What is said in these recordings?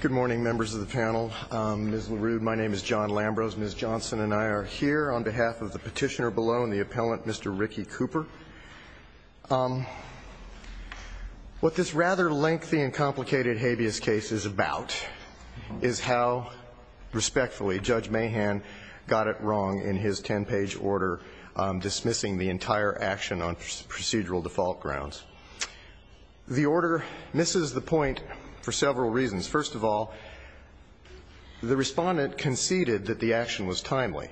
Good morning, members of the panel. Ms. LaRue, my name is John Lambros. Ms. Johnson and I are here on behalf of the petitioner below and the appellant, Mr. Ricky Cooper. What this rather lengthy and complicated habeas case is about is how, respectfully, Judge Mahan got it wrong in his ten-page order dismissing the entire action on procedural default grounds. The order misses the point for several reasons. First of all, the respondent conceded that the action was timely.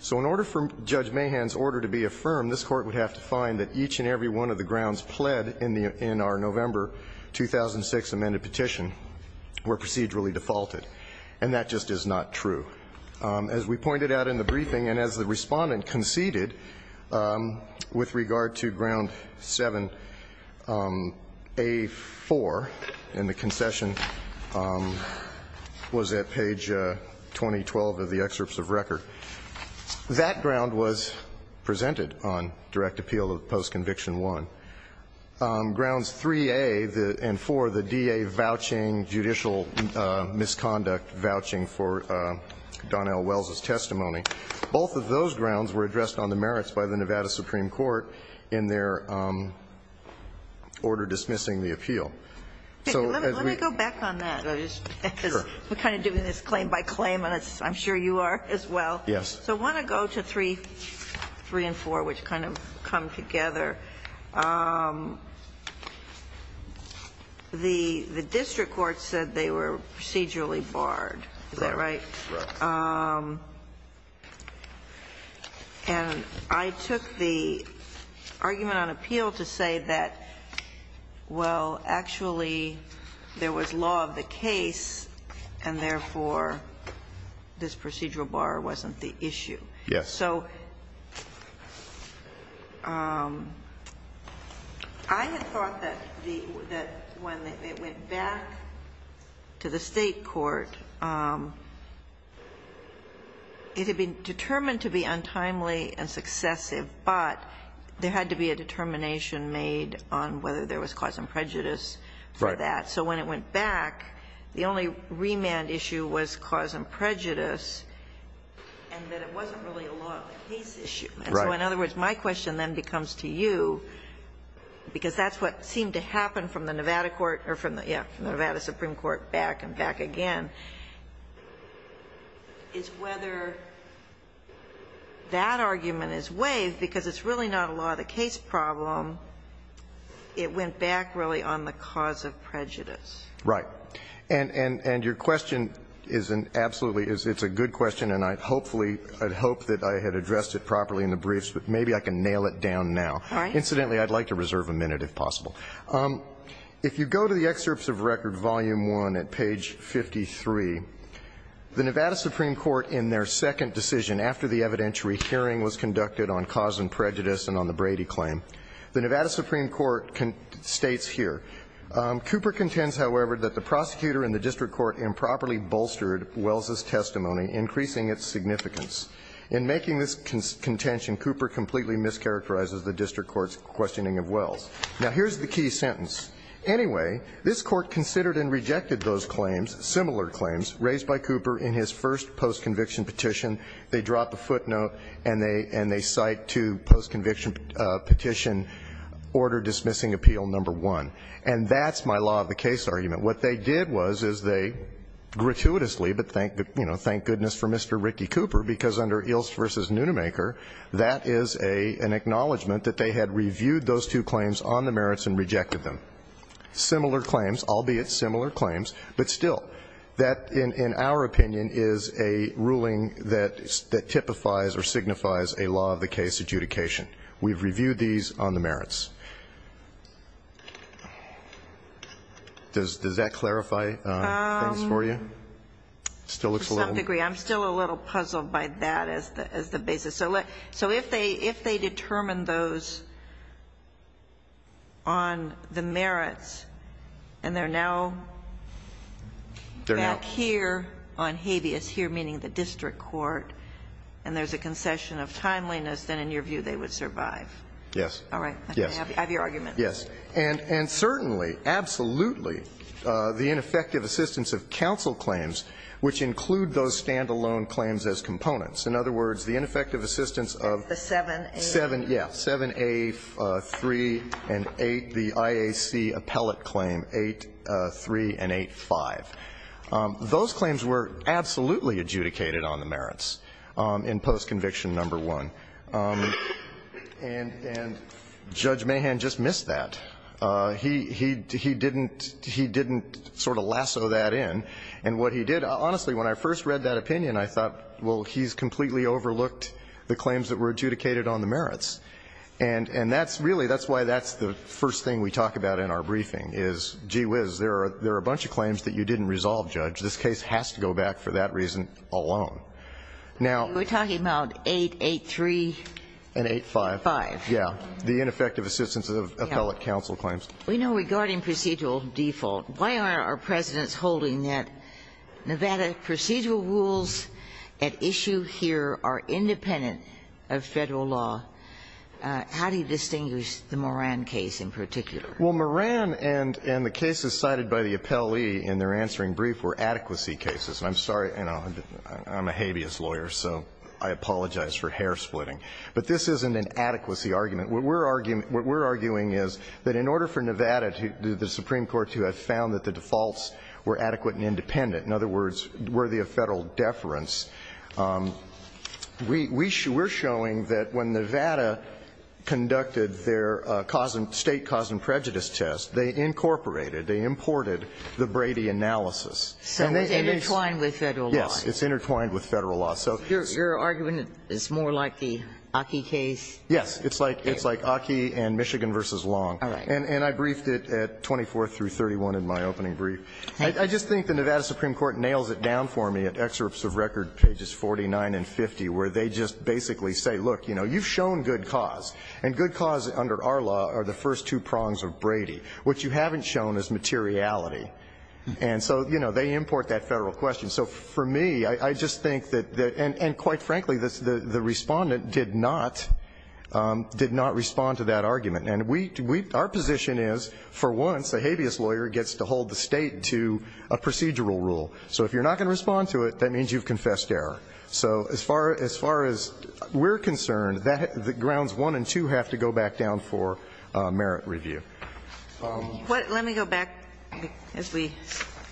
So in order for Judge Mahan's order to be affirmed, this Court would have to find that each and every one of the grounds pled in our November 2006 amended petition were procedurally defaulted. And that just is not true. As we pointed out in the briefing and as the respondent conceded with regard to ground 7A4, and the concession was at page 2012 of the excerpts of record, that ground was presented on direct appeal of post-conviction 1. Grounds 3A and 4, the DA vouching judicial misconduct, vouching for Donnell Wells' testimony, both of those grounds were addressed on the merits by the Nevada Supreme Court in their order dismissing the appeal. So as we go back on that, we're kind of doing this claim by claim, and I'm sure you are as well. Yes. So I want to go to 3 and 4, which kind of come together. The district court said they were procedurally barred. Is that right? Right. And I took the argument on appeal to say that, well, actually, there was law of the So I had thought that when it went back to the State court, it had been determined to be untimely and successive, but there had to be a determination made on whether there was cause and prejudice for that. Right. So when it went back, the only remand issue was cause and prejudice, and that it wasn't really a law of the case issue. Right. So in other words, my question then becomes to you, because that's what seemed to happen from the Nevada court or from the Nevada Supreme Court back and back again, is whether that argument is waived, because it's really not a law of the case problem. It went back, really, on the cause of prejudice. Right. And your question is an absolutely good question, and I hope that I had addressed it properly in the briefs, but maybe I can nail it down now. All right. Incidentally, I'd like to reserve a minute, if possible. If you go to the excerpts of record volume 1 at page 53, the Nevada Supreme Court in their second decision after the evidentiary hearing was conducted on cause and prejudice, the Nevada Supreme Court states here, Cooper contends, however, that the prosecutor in the district court improperly bolstered Wells' testimony, increasing its significance. In making this contention, Cooper completely mischaracterizes the district court's questioning of Wells. Now, here's the key sentence. Anyway, this court considered and rejected those claims, similar claims, raised by Cooper in his first post-conviction petition. They drop a footnote, and they cite to post-conviction petition, order dismissing appeal number one. And that's my law of the case argument. What they did was, is they gratuitously, but thank goodness for Mr. Ricky Cooper, because under Ilst v. Nunemaker, that is an acknowledgment that they had reviewed those two claims on the merits and rejected them. Similar claims, albeit similar claims, but still, that, in our opinion, is a ruling that typifies or signifies a law of the case adjudication. We've reviewed these on the merits. Does that clarify things for you? It still looks a little bit. I'm still a little puzzled by that as the basis. So if they determine those on the merits, and they're now back here on habeas, here meaning the district court, and there's a concession of timeliness, then in your view they would survive? Yes. All right. I have your argument. Yes. And certainly, absolutely, the ineffective assistance of counsel claims, which include those stand-alone claims as components. In other words, the ineffective assistance of the 7A3 and 8, the IAC appellate claim, 8.3 and 8.5. Those claims were absolutely adjudicated on the merits in post-conviction No. 1. And Judge Mahan just missed that. He didn't sort of lasso that in. And what he did, honestly, when I first read that opinion, I thought, well, he's completely overlooked the claims that were adjudicated on the merits. And that's really, that's why that's the first thing we talk about in our briefing is, gee whiz, there are a bunch of claims that you didn't resolve, Judge. This case has to go back for that reason alone. We're talking about 8.8.3. And 8.5. And 8.5. Yes. The ineffective assistance of appellate counsel claims. We know regarding procedural default, why aren't our presidents holding that Nevada procedural rules at issue here are independent of Federal law? How do you distinguish the Moran case in particular? Well, Moran and the cases cited by the appellee in their answering brief were adequacy cases. And I'm sorry, I'm a habeas lawyer, so I apologize for hair splitting. But this isn't an adequacy argument. What we're arguing is that in order for Nevada, the Supreme Court to have found that the defaults were adequate and independent, in other words, worthy of Federal deference, we're showing that when Nevada conducted their state cause and prejudice test, they incorporated, they imported the Brady analysis. So it's intertwined with Federal law. Yes. It's intertwined with Federal law. So your argument is more like the Aki case? Yes. It's like Aki and Michigan v. Long. All right. And I briefed it at 24th through 31 in my opening brief. I just think the Nevada Supreme Court nails it down for me at excerpts of record pages 49 and 50, where they just basically say, look, you know, you've shown good cause. And good cause under our law are the first two prongs of Brady. What you haven't shown is materiality. And so, you know, they import that Federal question. So for me, I just think that, and quite frankly, the respondent did not respond to that argument. And our position is, for once, a habeas lawyer gets to hold the state to a procedural rule. So if you're not going to respond to it, that means you've confessed error. So as far as we're concerned, the grounds 1 and 2 have to go back down for merit review. Let me go back as we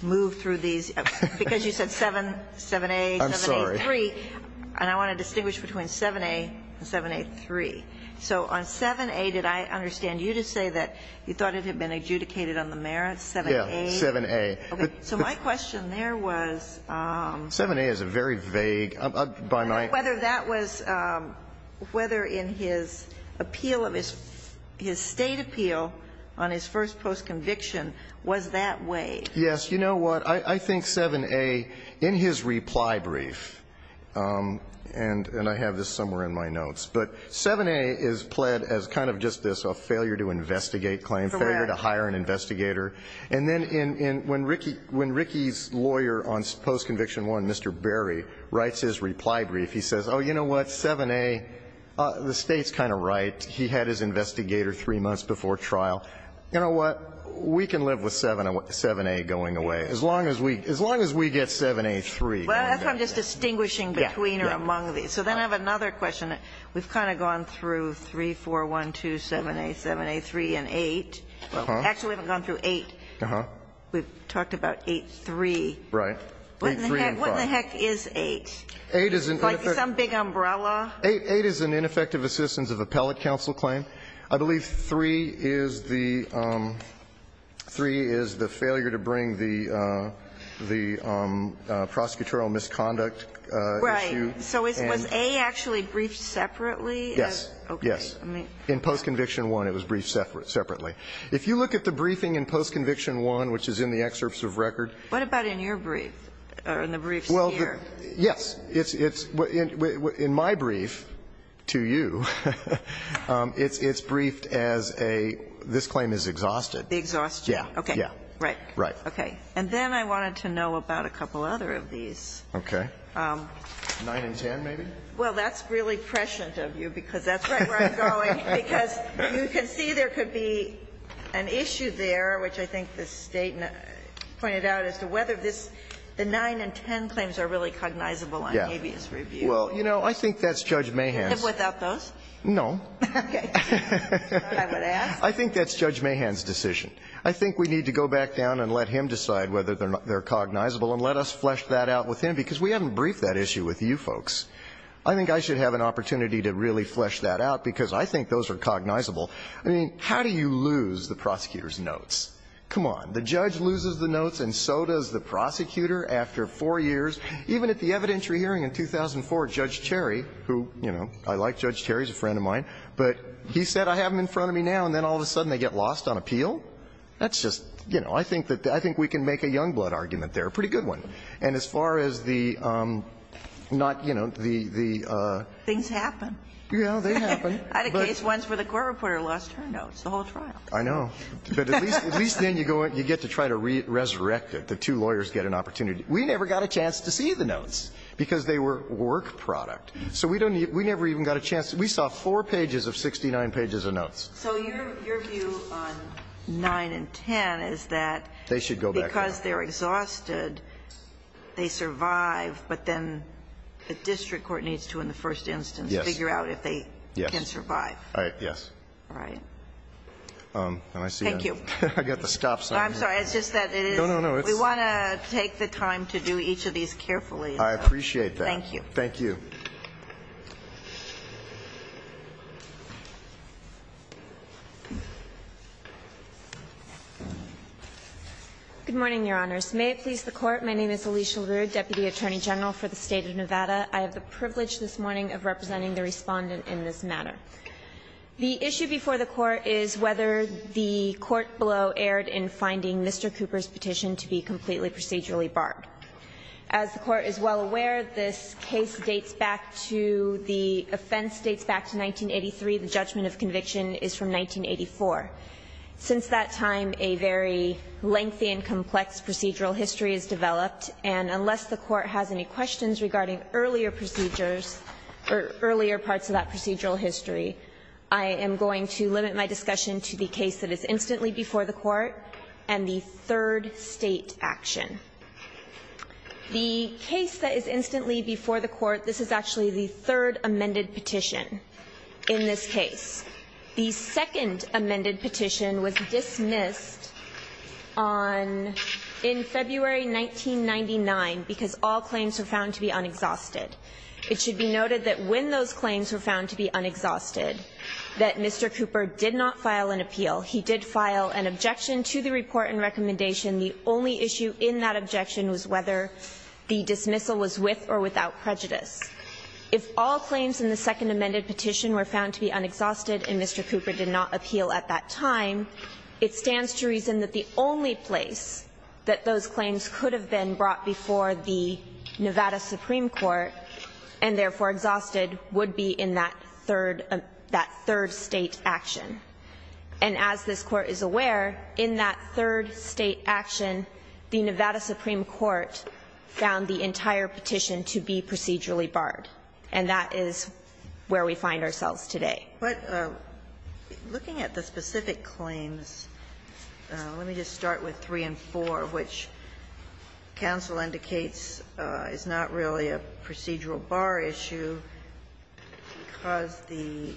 move through these. Because you said 7A, 7A3. I'm sorry. And I want to distinguish between 7A and 7A3. So on 7A, did I understand you to say that you thought it had been adjudicated on the merits, 7A? Yes, 7A. So my question there was. 7A is a very vague, by my. Whether that was, whether in his appeal of his, his state appeal on his first post conviction was that way. Yes, you know what? I think 7A, in his reply brief, and I have this somewhere in my notes. But 7A is pled as kind of just this failure to investigate claim, failure to hire an investigator. And then when Ricky's lawyer on post conviction 1, Mr. Berry, writes his reply brief, he says, oh, you know what? 7A, the State's kind of right. He had his investigator three months before trial. You know what? We can live with 7A going away, as long as we get 7A3. Well, that's why I'm just distinguishing between or among these. So then I have another question. We've kind of gone through 3, 4, 1, 2, 7A, 7A3 and 8. Actually, we haven't gone through 8. We've talked about 8, 3. What in the heck is 8? Like some big umbrella? 8 is an ineffective assistance of appellate counsel claim. I believe 3 is the failure to bring the prosecutorial misconduct issue. Right. So was 8 actually briefed separately? Yes. Yes. In post conviction 1, it was briefed separately. If you look at the briefing in post conviction 1, which is in the excerpts of record. What about in your brief, or in the briefs here? Well, yes. In my brief to you, it's briefed as a, this claim is exhausted. The exhaustion. Yes. Okay. Right. Right. And then I wanted to know about a couple other of these. Okay. 9 and 10, maybe? Well, that's really prescient of you, because that's right where I'm going. Because you can see there could be an issue there, which I think the State pointed out, as to whether this, the 9 and 10 claims are really cognizable on habeas review. Well, you know, I think that's Judge Mahan's. Without those? No. Okay. I would ask. I think that's Judge Mahan's decision. I think we need to go back down and let him decide whether they're cognizable and let us flesh that out with him, because we haven't briefed that issue with you folks. I think I should have an opportunity to really flesh that out, because I think those are cognizable. I mean, how do you lose the prosecutor's notes? Come on. The judge loses the notes, and so does the prosecutor after four years. Even at the evidentiary hearing in 2004, Judge Cherry, who, you know, I like Judge Cherry. He's a friend of mine. But he said, I have them in front of me now, and then all of a sudden they get lost on appeal. That's just, you know, I think we can make a young blood argument there. It's a pretty good one. And as far as the not, you know, the the... Things happen. Yeah, they happen. I had a case once where the court reporter lost her notes the whole trial. I know. But at least then you get to try to resurrect it. The two lawyers get an opportunity. We never got a chance to see the notes, because they were work product. So we never even got a chance. We saw four pages of 69 pages of notes. So your view on 9 and 10 is that... They should go back now. ...because they're exhausted, they survive, but then the district court needs to, in the first instance, figure out if they can survive. Yes. All right. Yes. All right. Thank you. I got the stop sign. I'm sorry. It's just that it is... No, no, no. We want to take the time to do each of these carefully. I appreciate that. Thank you. Thank you. Good morning, Your Honors. May it please the Court. My name is Alicia Leroux, Deputy Attorney General for the State of Nevada. I have the privilege this morning of representing the Respondent in this matter. The issue before the Court is whether the court below erred in finding Mr. Cooper's petition to be completely procedurally barred. As the Court is well aware, this case dates back to the offense dates back to 1983. The judgment of conviction is from 1984. Since that time, a very lengthy and complex procedural history has developed, and unless the Court has any questions regarding earlier procedures or earlier parts of that procedural history, I am going to limit my discussion to the case that is instantly before the Court and the third State action. The case that is instantly before the Court, this is actually the third amended petition in this case. The second amended petition was dismissed in February 1999 because all claims were found to be unexhausted. It should be noted that when those claims were found to be unexhausted, that Mr. Cooper did not file an appeal. He did file an objection to the report and recommendation. The only issue in that objection was whether the dismissal was with or without prejudice. If all claims in the second amended petition were found to be unexhausted and Mr. Cooper did not appeal at that time, it stands to reason that the only place that those claims could have been brought before the Nevada Supreme Court and therefore exhausted would be in that third State action. And as this Court is aware, in that third State action, the Nevada Supreme Court found the entire petition to be procedurally barred. And that is where we find ourselves today. Ginsburg. But looking at the specific claims, let me just start with 3 and 4, which counsel indicates is not really a procedural bar issue because the,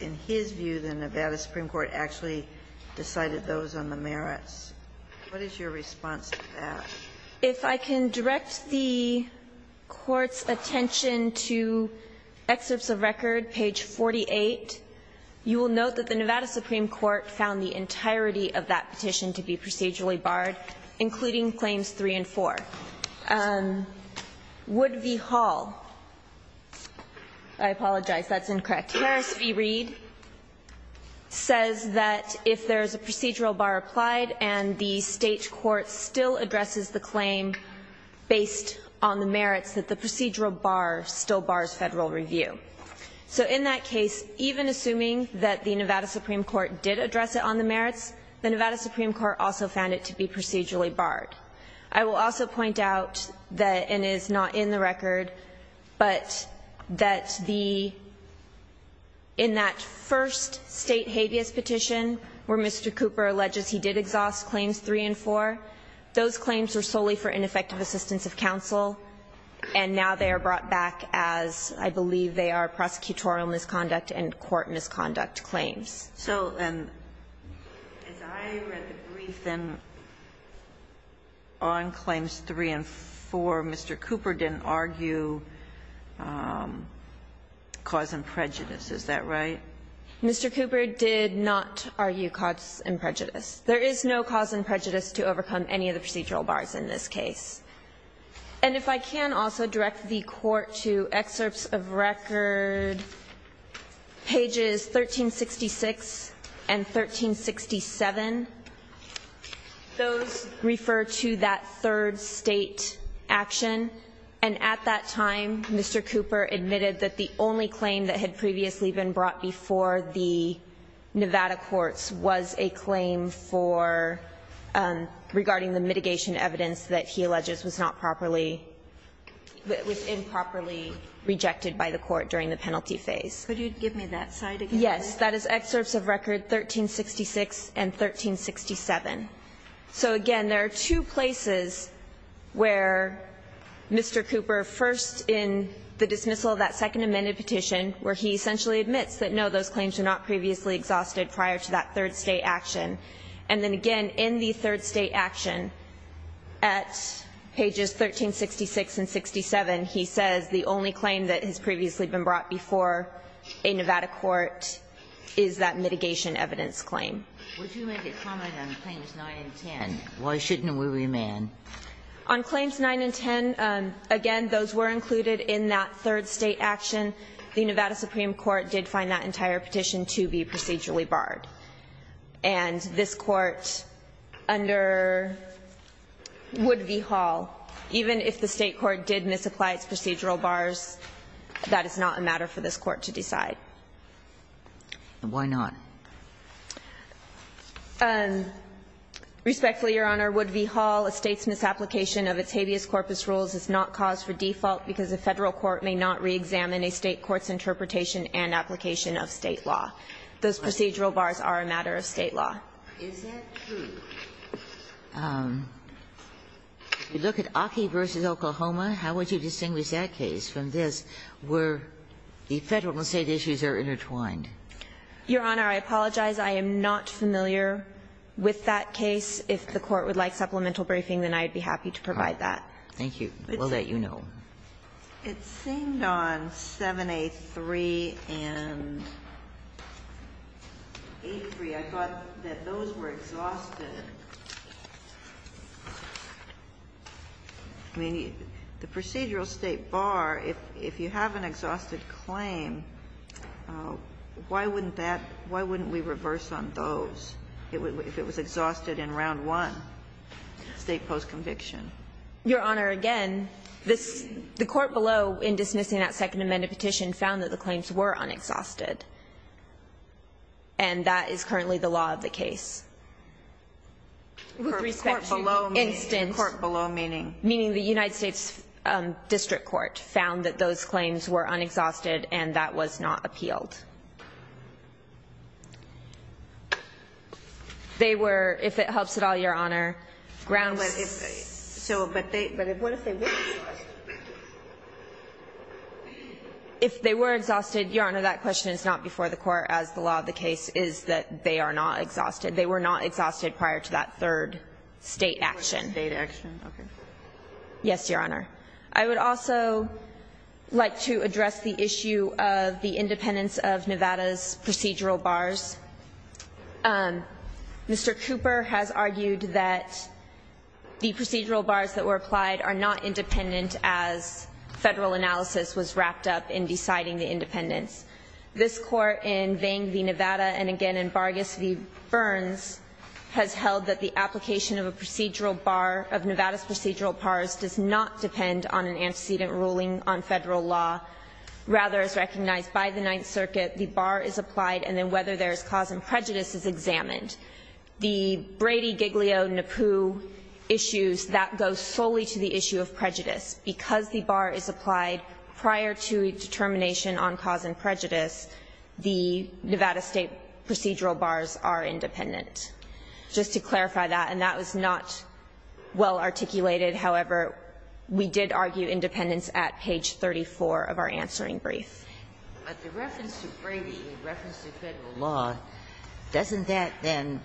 in his view, the Nevada Supreme Court actually decided those on the merits. What is your response to that? If I can direct the Court's attention to excerpts of record, page 48, you will note that the Nevada Supreme Court found the entirety of that petition to be procedurally barred, including claims 3 and 4. Wood v. Hall, I apologize, that's incorrect. Harris v. Reed says that if there is a procedural bar applied and the State court still addresses the claim based on the merits, that the procedural bar still bars Federal review. So in that case, even assuming that the Nevada Supreme Court did address it on the merits, the Nevada Supreme Court also found it to be procedurally barred. I will also point out that, and it is not in the record, but that the, in that first State habeas petition, where Mr. Cooper alleges he did exhaust claims 3 and 4, those claims were solely for ineffective assistance of counsel, and now they are brought back as I believe they are prosecutorial misconduct and court misconduct claims. So as I read the briefing on claims 3 and 4, Mr. Cooper didn't argue cause and prejudice. Is that right? Mr. Cooper did not argue cause and prejudice. There is no cause and prejudice to overcome any of the procedural bars in this case. And if I can also direct the Court to excerpts of record, pages 1366 and 1367. Those refer to that third State action, and at that time, Mr. Cooper admitted that the only claim that had previously been brought before the Nevada courts was a claim for, regarding the mitigation evidence that he alleges was not properly was improperly rejected by the Court during the penalty phase. Could you give me that side again? Yes. That is excerpts of record 1366 and 1367. So again, there are two places where Mr. Cooper, first in the dismissal of that second amended petition, where he essentially admits that no, those claims were not previously exhausted prior to that third State action, and then again in the third State action, at pages 1366 and 1367, he says the only claim that has previously been brought before a Nevada court is that mitigation evidence claim. Would you make a comment on claims 9 and 10? Why shouldn't we remand? On claims 9 and 10, again, those were included in that third State action. The Nevada Supreme Court did find that entire petition to be procedurally barred, and this Court, under Wood v. Hall, even if the State court did misapply its procedural bars, that is not a matter for this Court to decide. Why not? Respectfully, Your Honor, Wood v. Hall, a State's misapplication of its habeas corpus rules is not cause for default because a Federal court may not reexamine a State court's interpretation and application of State law. Those procedural bars are a matter of State law. Is that true? If you look at Aki v. Oklahoma, how would you distinguish that case from this where the Federal and State issues are intertwined? Your Honor, I apologize. I am not familiar with that case. If the Court would like supplemental briefing, then I would be happy to provide that. Thank you. We'll let you know. It seemed on 7A3 and 8A3, I thought that those were exhausted. I mean, the procedural State bar, if you have an exhausted claim, why wouldn't that why wouldn't we reverse on those if it was exhausted in round one, State post conviction? Your Honor, again, the Court below in dismissing that Second Amendment petition found that the claims were unexhausted, and that is currently the law of the case. With respect to instance. The Court below meaning? Meaning the United States District Court found that those claims were unexhausted and that was not appealed. They were, if it helps at all, Your Honor, grounds. But if they were exhausted? If they were exhausted, Your Honor, that question is not before the Court as the law of the case is that they are not exhausted. They were not exhausted prior to that third State action. State action. Okay. Yes, Your Honor. I would also like to address the issue of the independence of Nevada's procedural bars. Mr. Cooper has argued that the procedural bars that were applied are not independent as Federal analysis was wrapped up in deciding the independence. This Court in Vang v. Nevada and again in Bargas v. Burns has held that the application of a procedural bar of Nevada's procedural bars does not depend on an antecedent ruling on Federal law. Rather, as recognized by the Ninth Circuit, the bar is applied and then whether there is cause and prejudice is examined. The Brady, Giglio, Napu issues, that goes solely to the issue of prejudice. Because the bar is applied prior to a determination on cause and prejudice, the Nevada State procedural bars are independent. Just to clarify that. And that was not well articulated. However, we did argue independence at page 34 of our answering brief. But the reference to Brady in reference to Federal law, doesn't that then,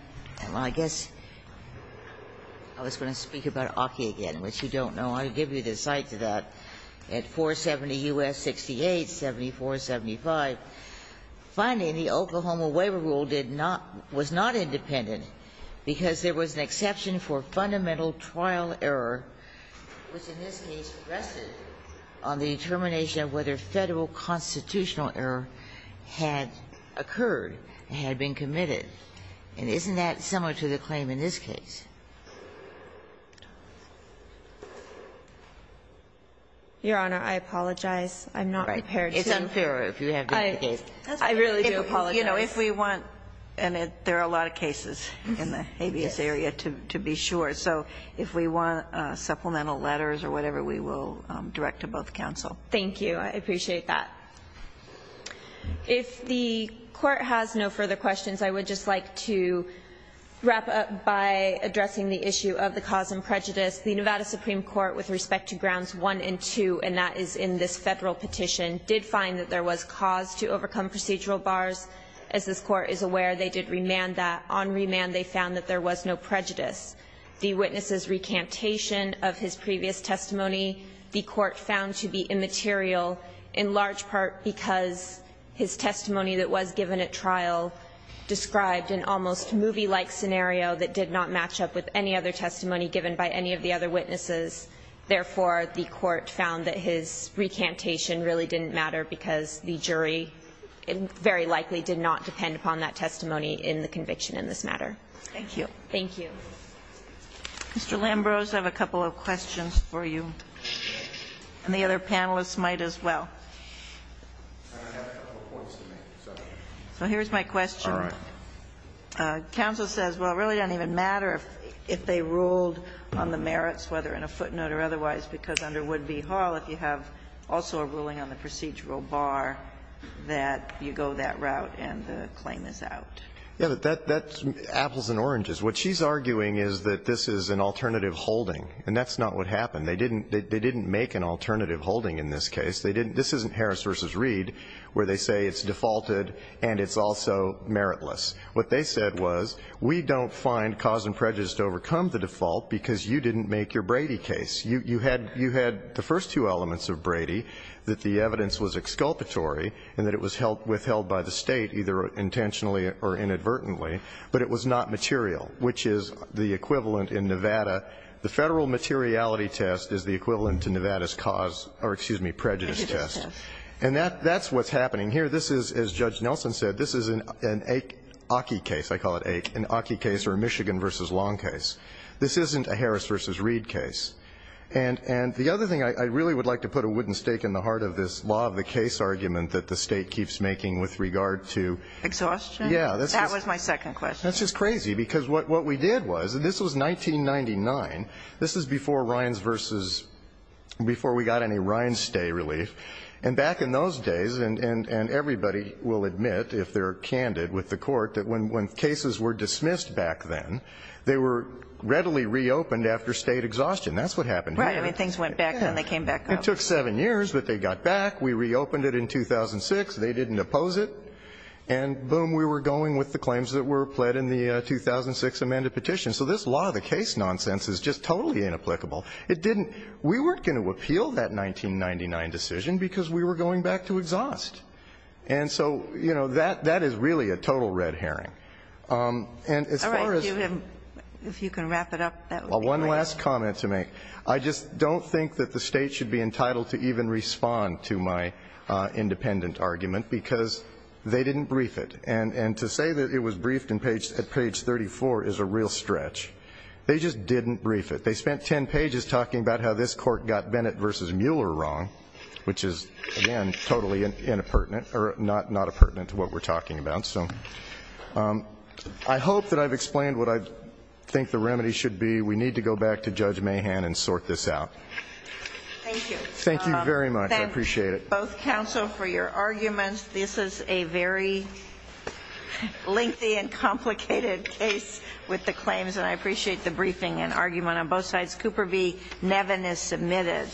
I guess I was going to speak about Aki again, which you don't know. I'll give you the cite to that, at 470 U.S. 68, 7475. Finally, the Oklahoma Waiver Rule did not was not independent because there was an exception for fundamental trial error, which in this case rested on the determination of whether Federal constitutional error had occurred, had been committed. And isn't that similar to the claim in this case? Your Honor, I apologize. I'm not prepared to. It's unfair if you have to advocate. I really do apologize. You know, if we want, and there are a lot of cases in the habeas area to be sure. So if we want supplemental letters or whatever, we will direct to both counsel. Thank you. I appreciate that. If the Court has no further questions, I would just like to wrap up by addressing the issue of the cause and prejudice. The Nevada Supreme Court, with respect to Grounds 1 and 2, and that is in this Federal petition, did find that there was cause to overcome procedural bars. As this Court is aware, they did remand that. On remand, they found that there was no prejudice. The witness's recantation of his previous testimony, the Court found to be immaterial, in large part because his testimony that was given at trial described an almost movie-like scenario that did not match up with any other testimony given by any of the other witnesses. Therefore, the Court found that his recantation really didn't matter because the jury very likely did not depend upon that testimony in the conviction in this matter. Thank you. Thank you. Mr. Lambrose, I have a couple of questions for you. And the other panelists might as well. I have a couple of points to make. So here's my question. All right. Counsel says, well, it really doesn't even matter if they ruled on the merits, whether in a footnote or otherwise, because under Woodby Hall, if you have also a ruling on the procedural bar, that you go that route and the claim is out. Yes, but that's apples and oranges. What she's arguing is that this is an alternative holding, and that's not what happened. They didn't make an alternative holding in this case. This isn't Harris v. Reed where they say it's defaulted and it's also meritless. What they said was we don't find cause and prejudice to overcome the default because you didn't make your Brady case. You had the first two elements of Brady, that the evidence was exculpatory and that it was withheld by the State, either intentionally or inadvertently, but it was not material, which is the equivalent in Nevada. The Federal materiality test is the equivalent to Nevada's cause or, excuse me, prejudice test. And that's what's happening here. This is, as Judge Nelson said, this is an Aki case. I call it an Aki case or a Michigan v. Long case. This isn't a Harris v. Reed case. And the other thing, I really would like to put a wooden stake in the heart of this law of the case argument that the State keeps making with regard to. Exhaustion? Yeah. That was my second question. That's just crazy. Because what we did was, this was 1999. This is before Rines v. Before we got any Rines stay relief. And back in those days, and everybody will admit if they're candid with the Court, that when cases were dismissed back then, they were readily reopened after State exhaustion. That's what happened here. Right. I mean, things went back then. They came back up. It took seven years, but they got back. We reopened it in 2006. They didn't oppose it. And boom, we were going with the claims that were pled in the 2006 amended petition. So this law of the case nonsense is just totally inapplicable. It didn't we weren't going to appeal that 1999 decision because we were going back to exhaust. And so, you know, that that is really a total red herring. And as far as if you can wrap it up. Well, one last comment to make. I just don't think that the State should be entitled to even respond to my independent argument because they didn't brief it. And to say that it was briefed at page 34 is a real stretch. They just didn't brief it. They spent 10 pages talking about how this Court got Bennett versus Mueller wrong, which is, again, totally inappurtenant or not appurtenant to what we're talking about. So I hope that I've explained what I think the remedy should be. We need to go back to Judge Mahan and sort this out. Thank you. Thank you very much. I appreciate it. Both counsel for your arguments. This is a very lengthy and complicated case with the claims. And I appreciate the briefing and argument on both sides. Cooper v. Nevin is submitted.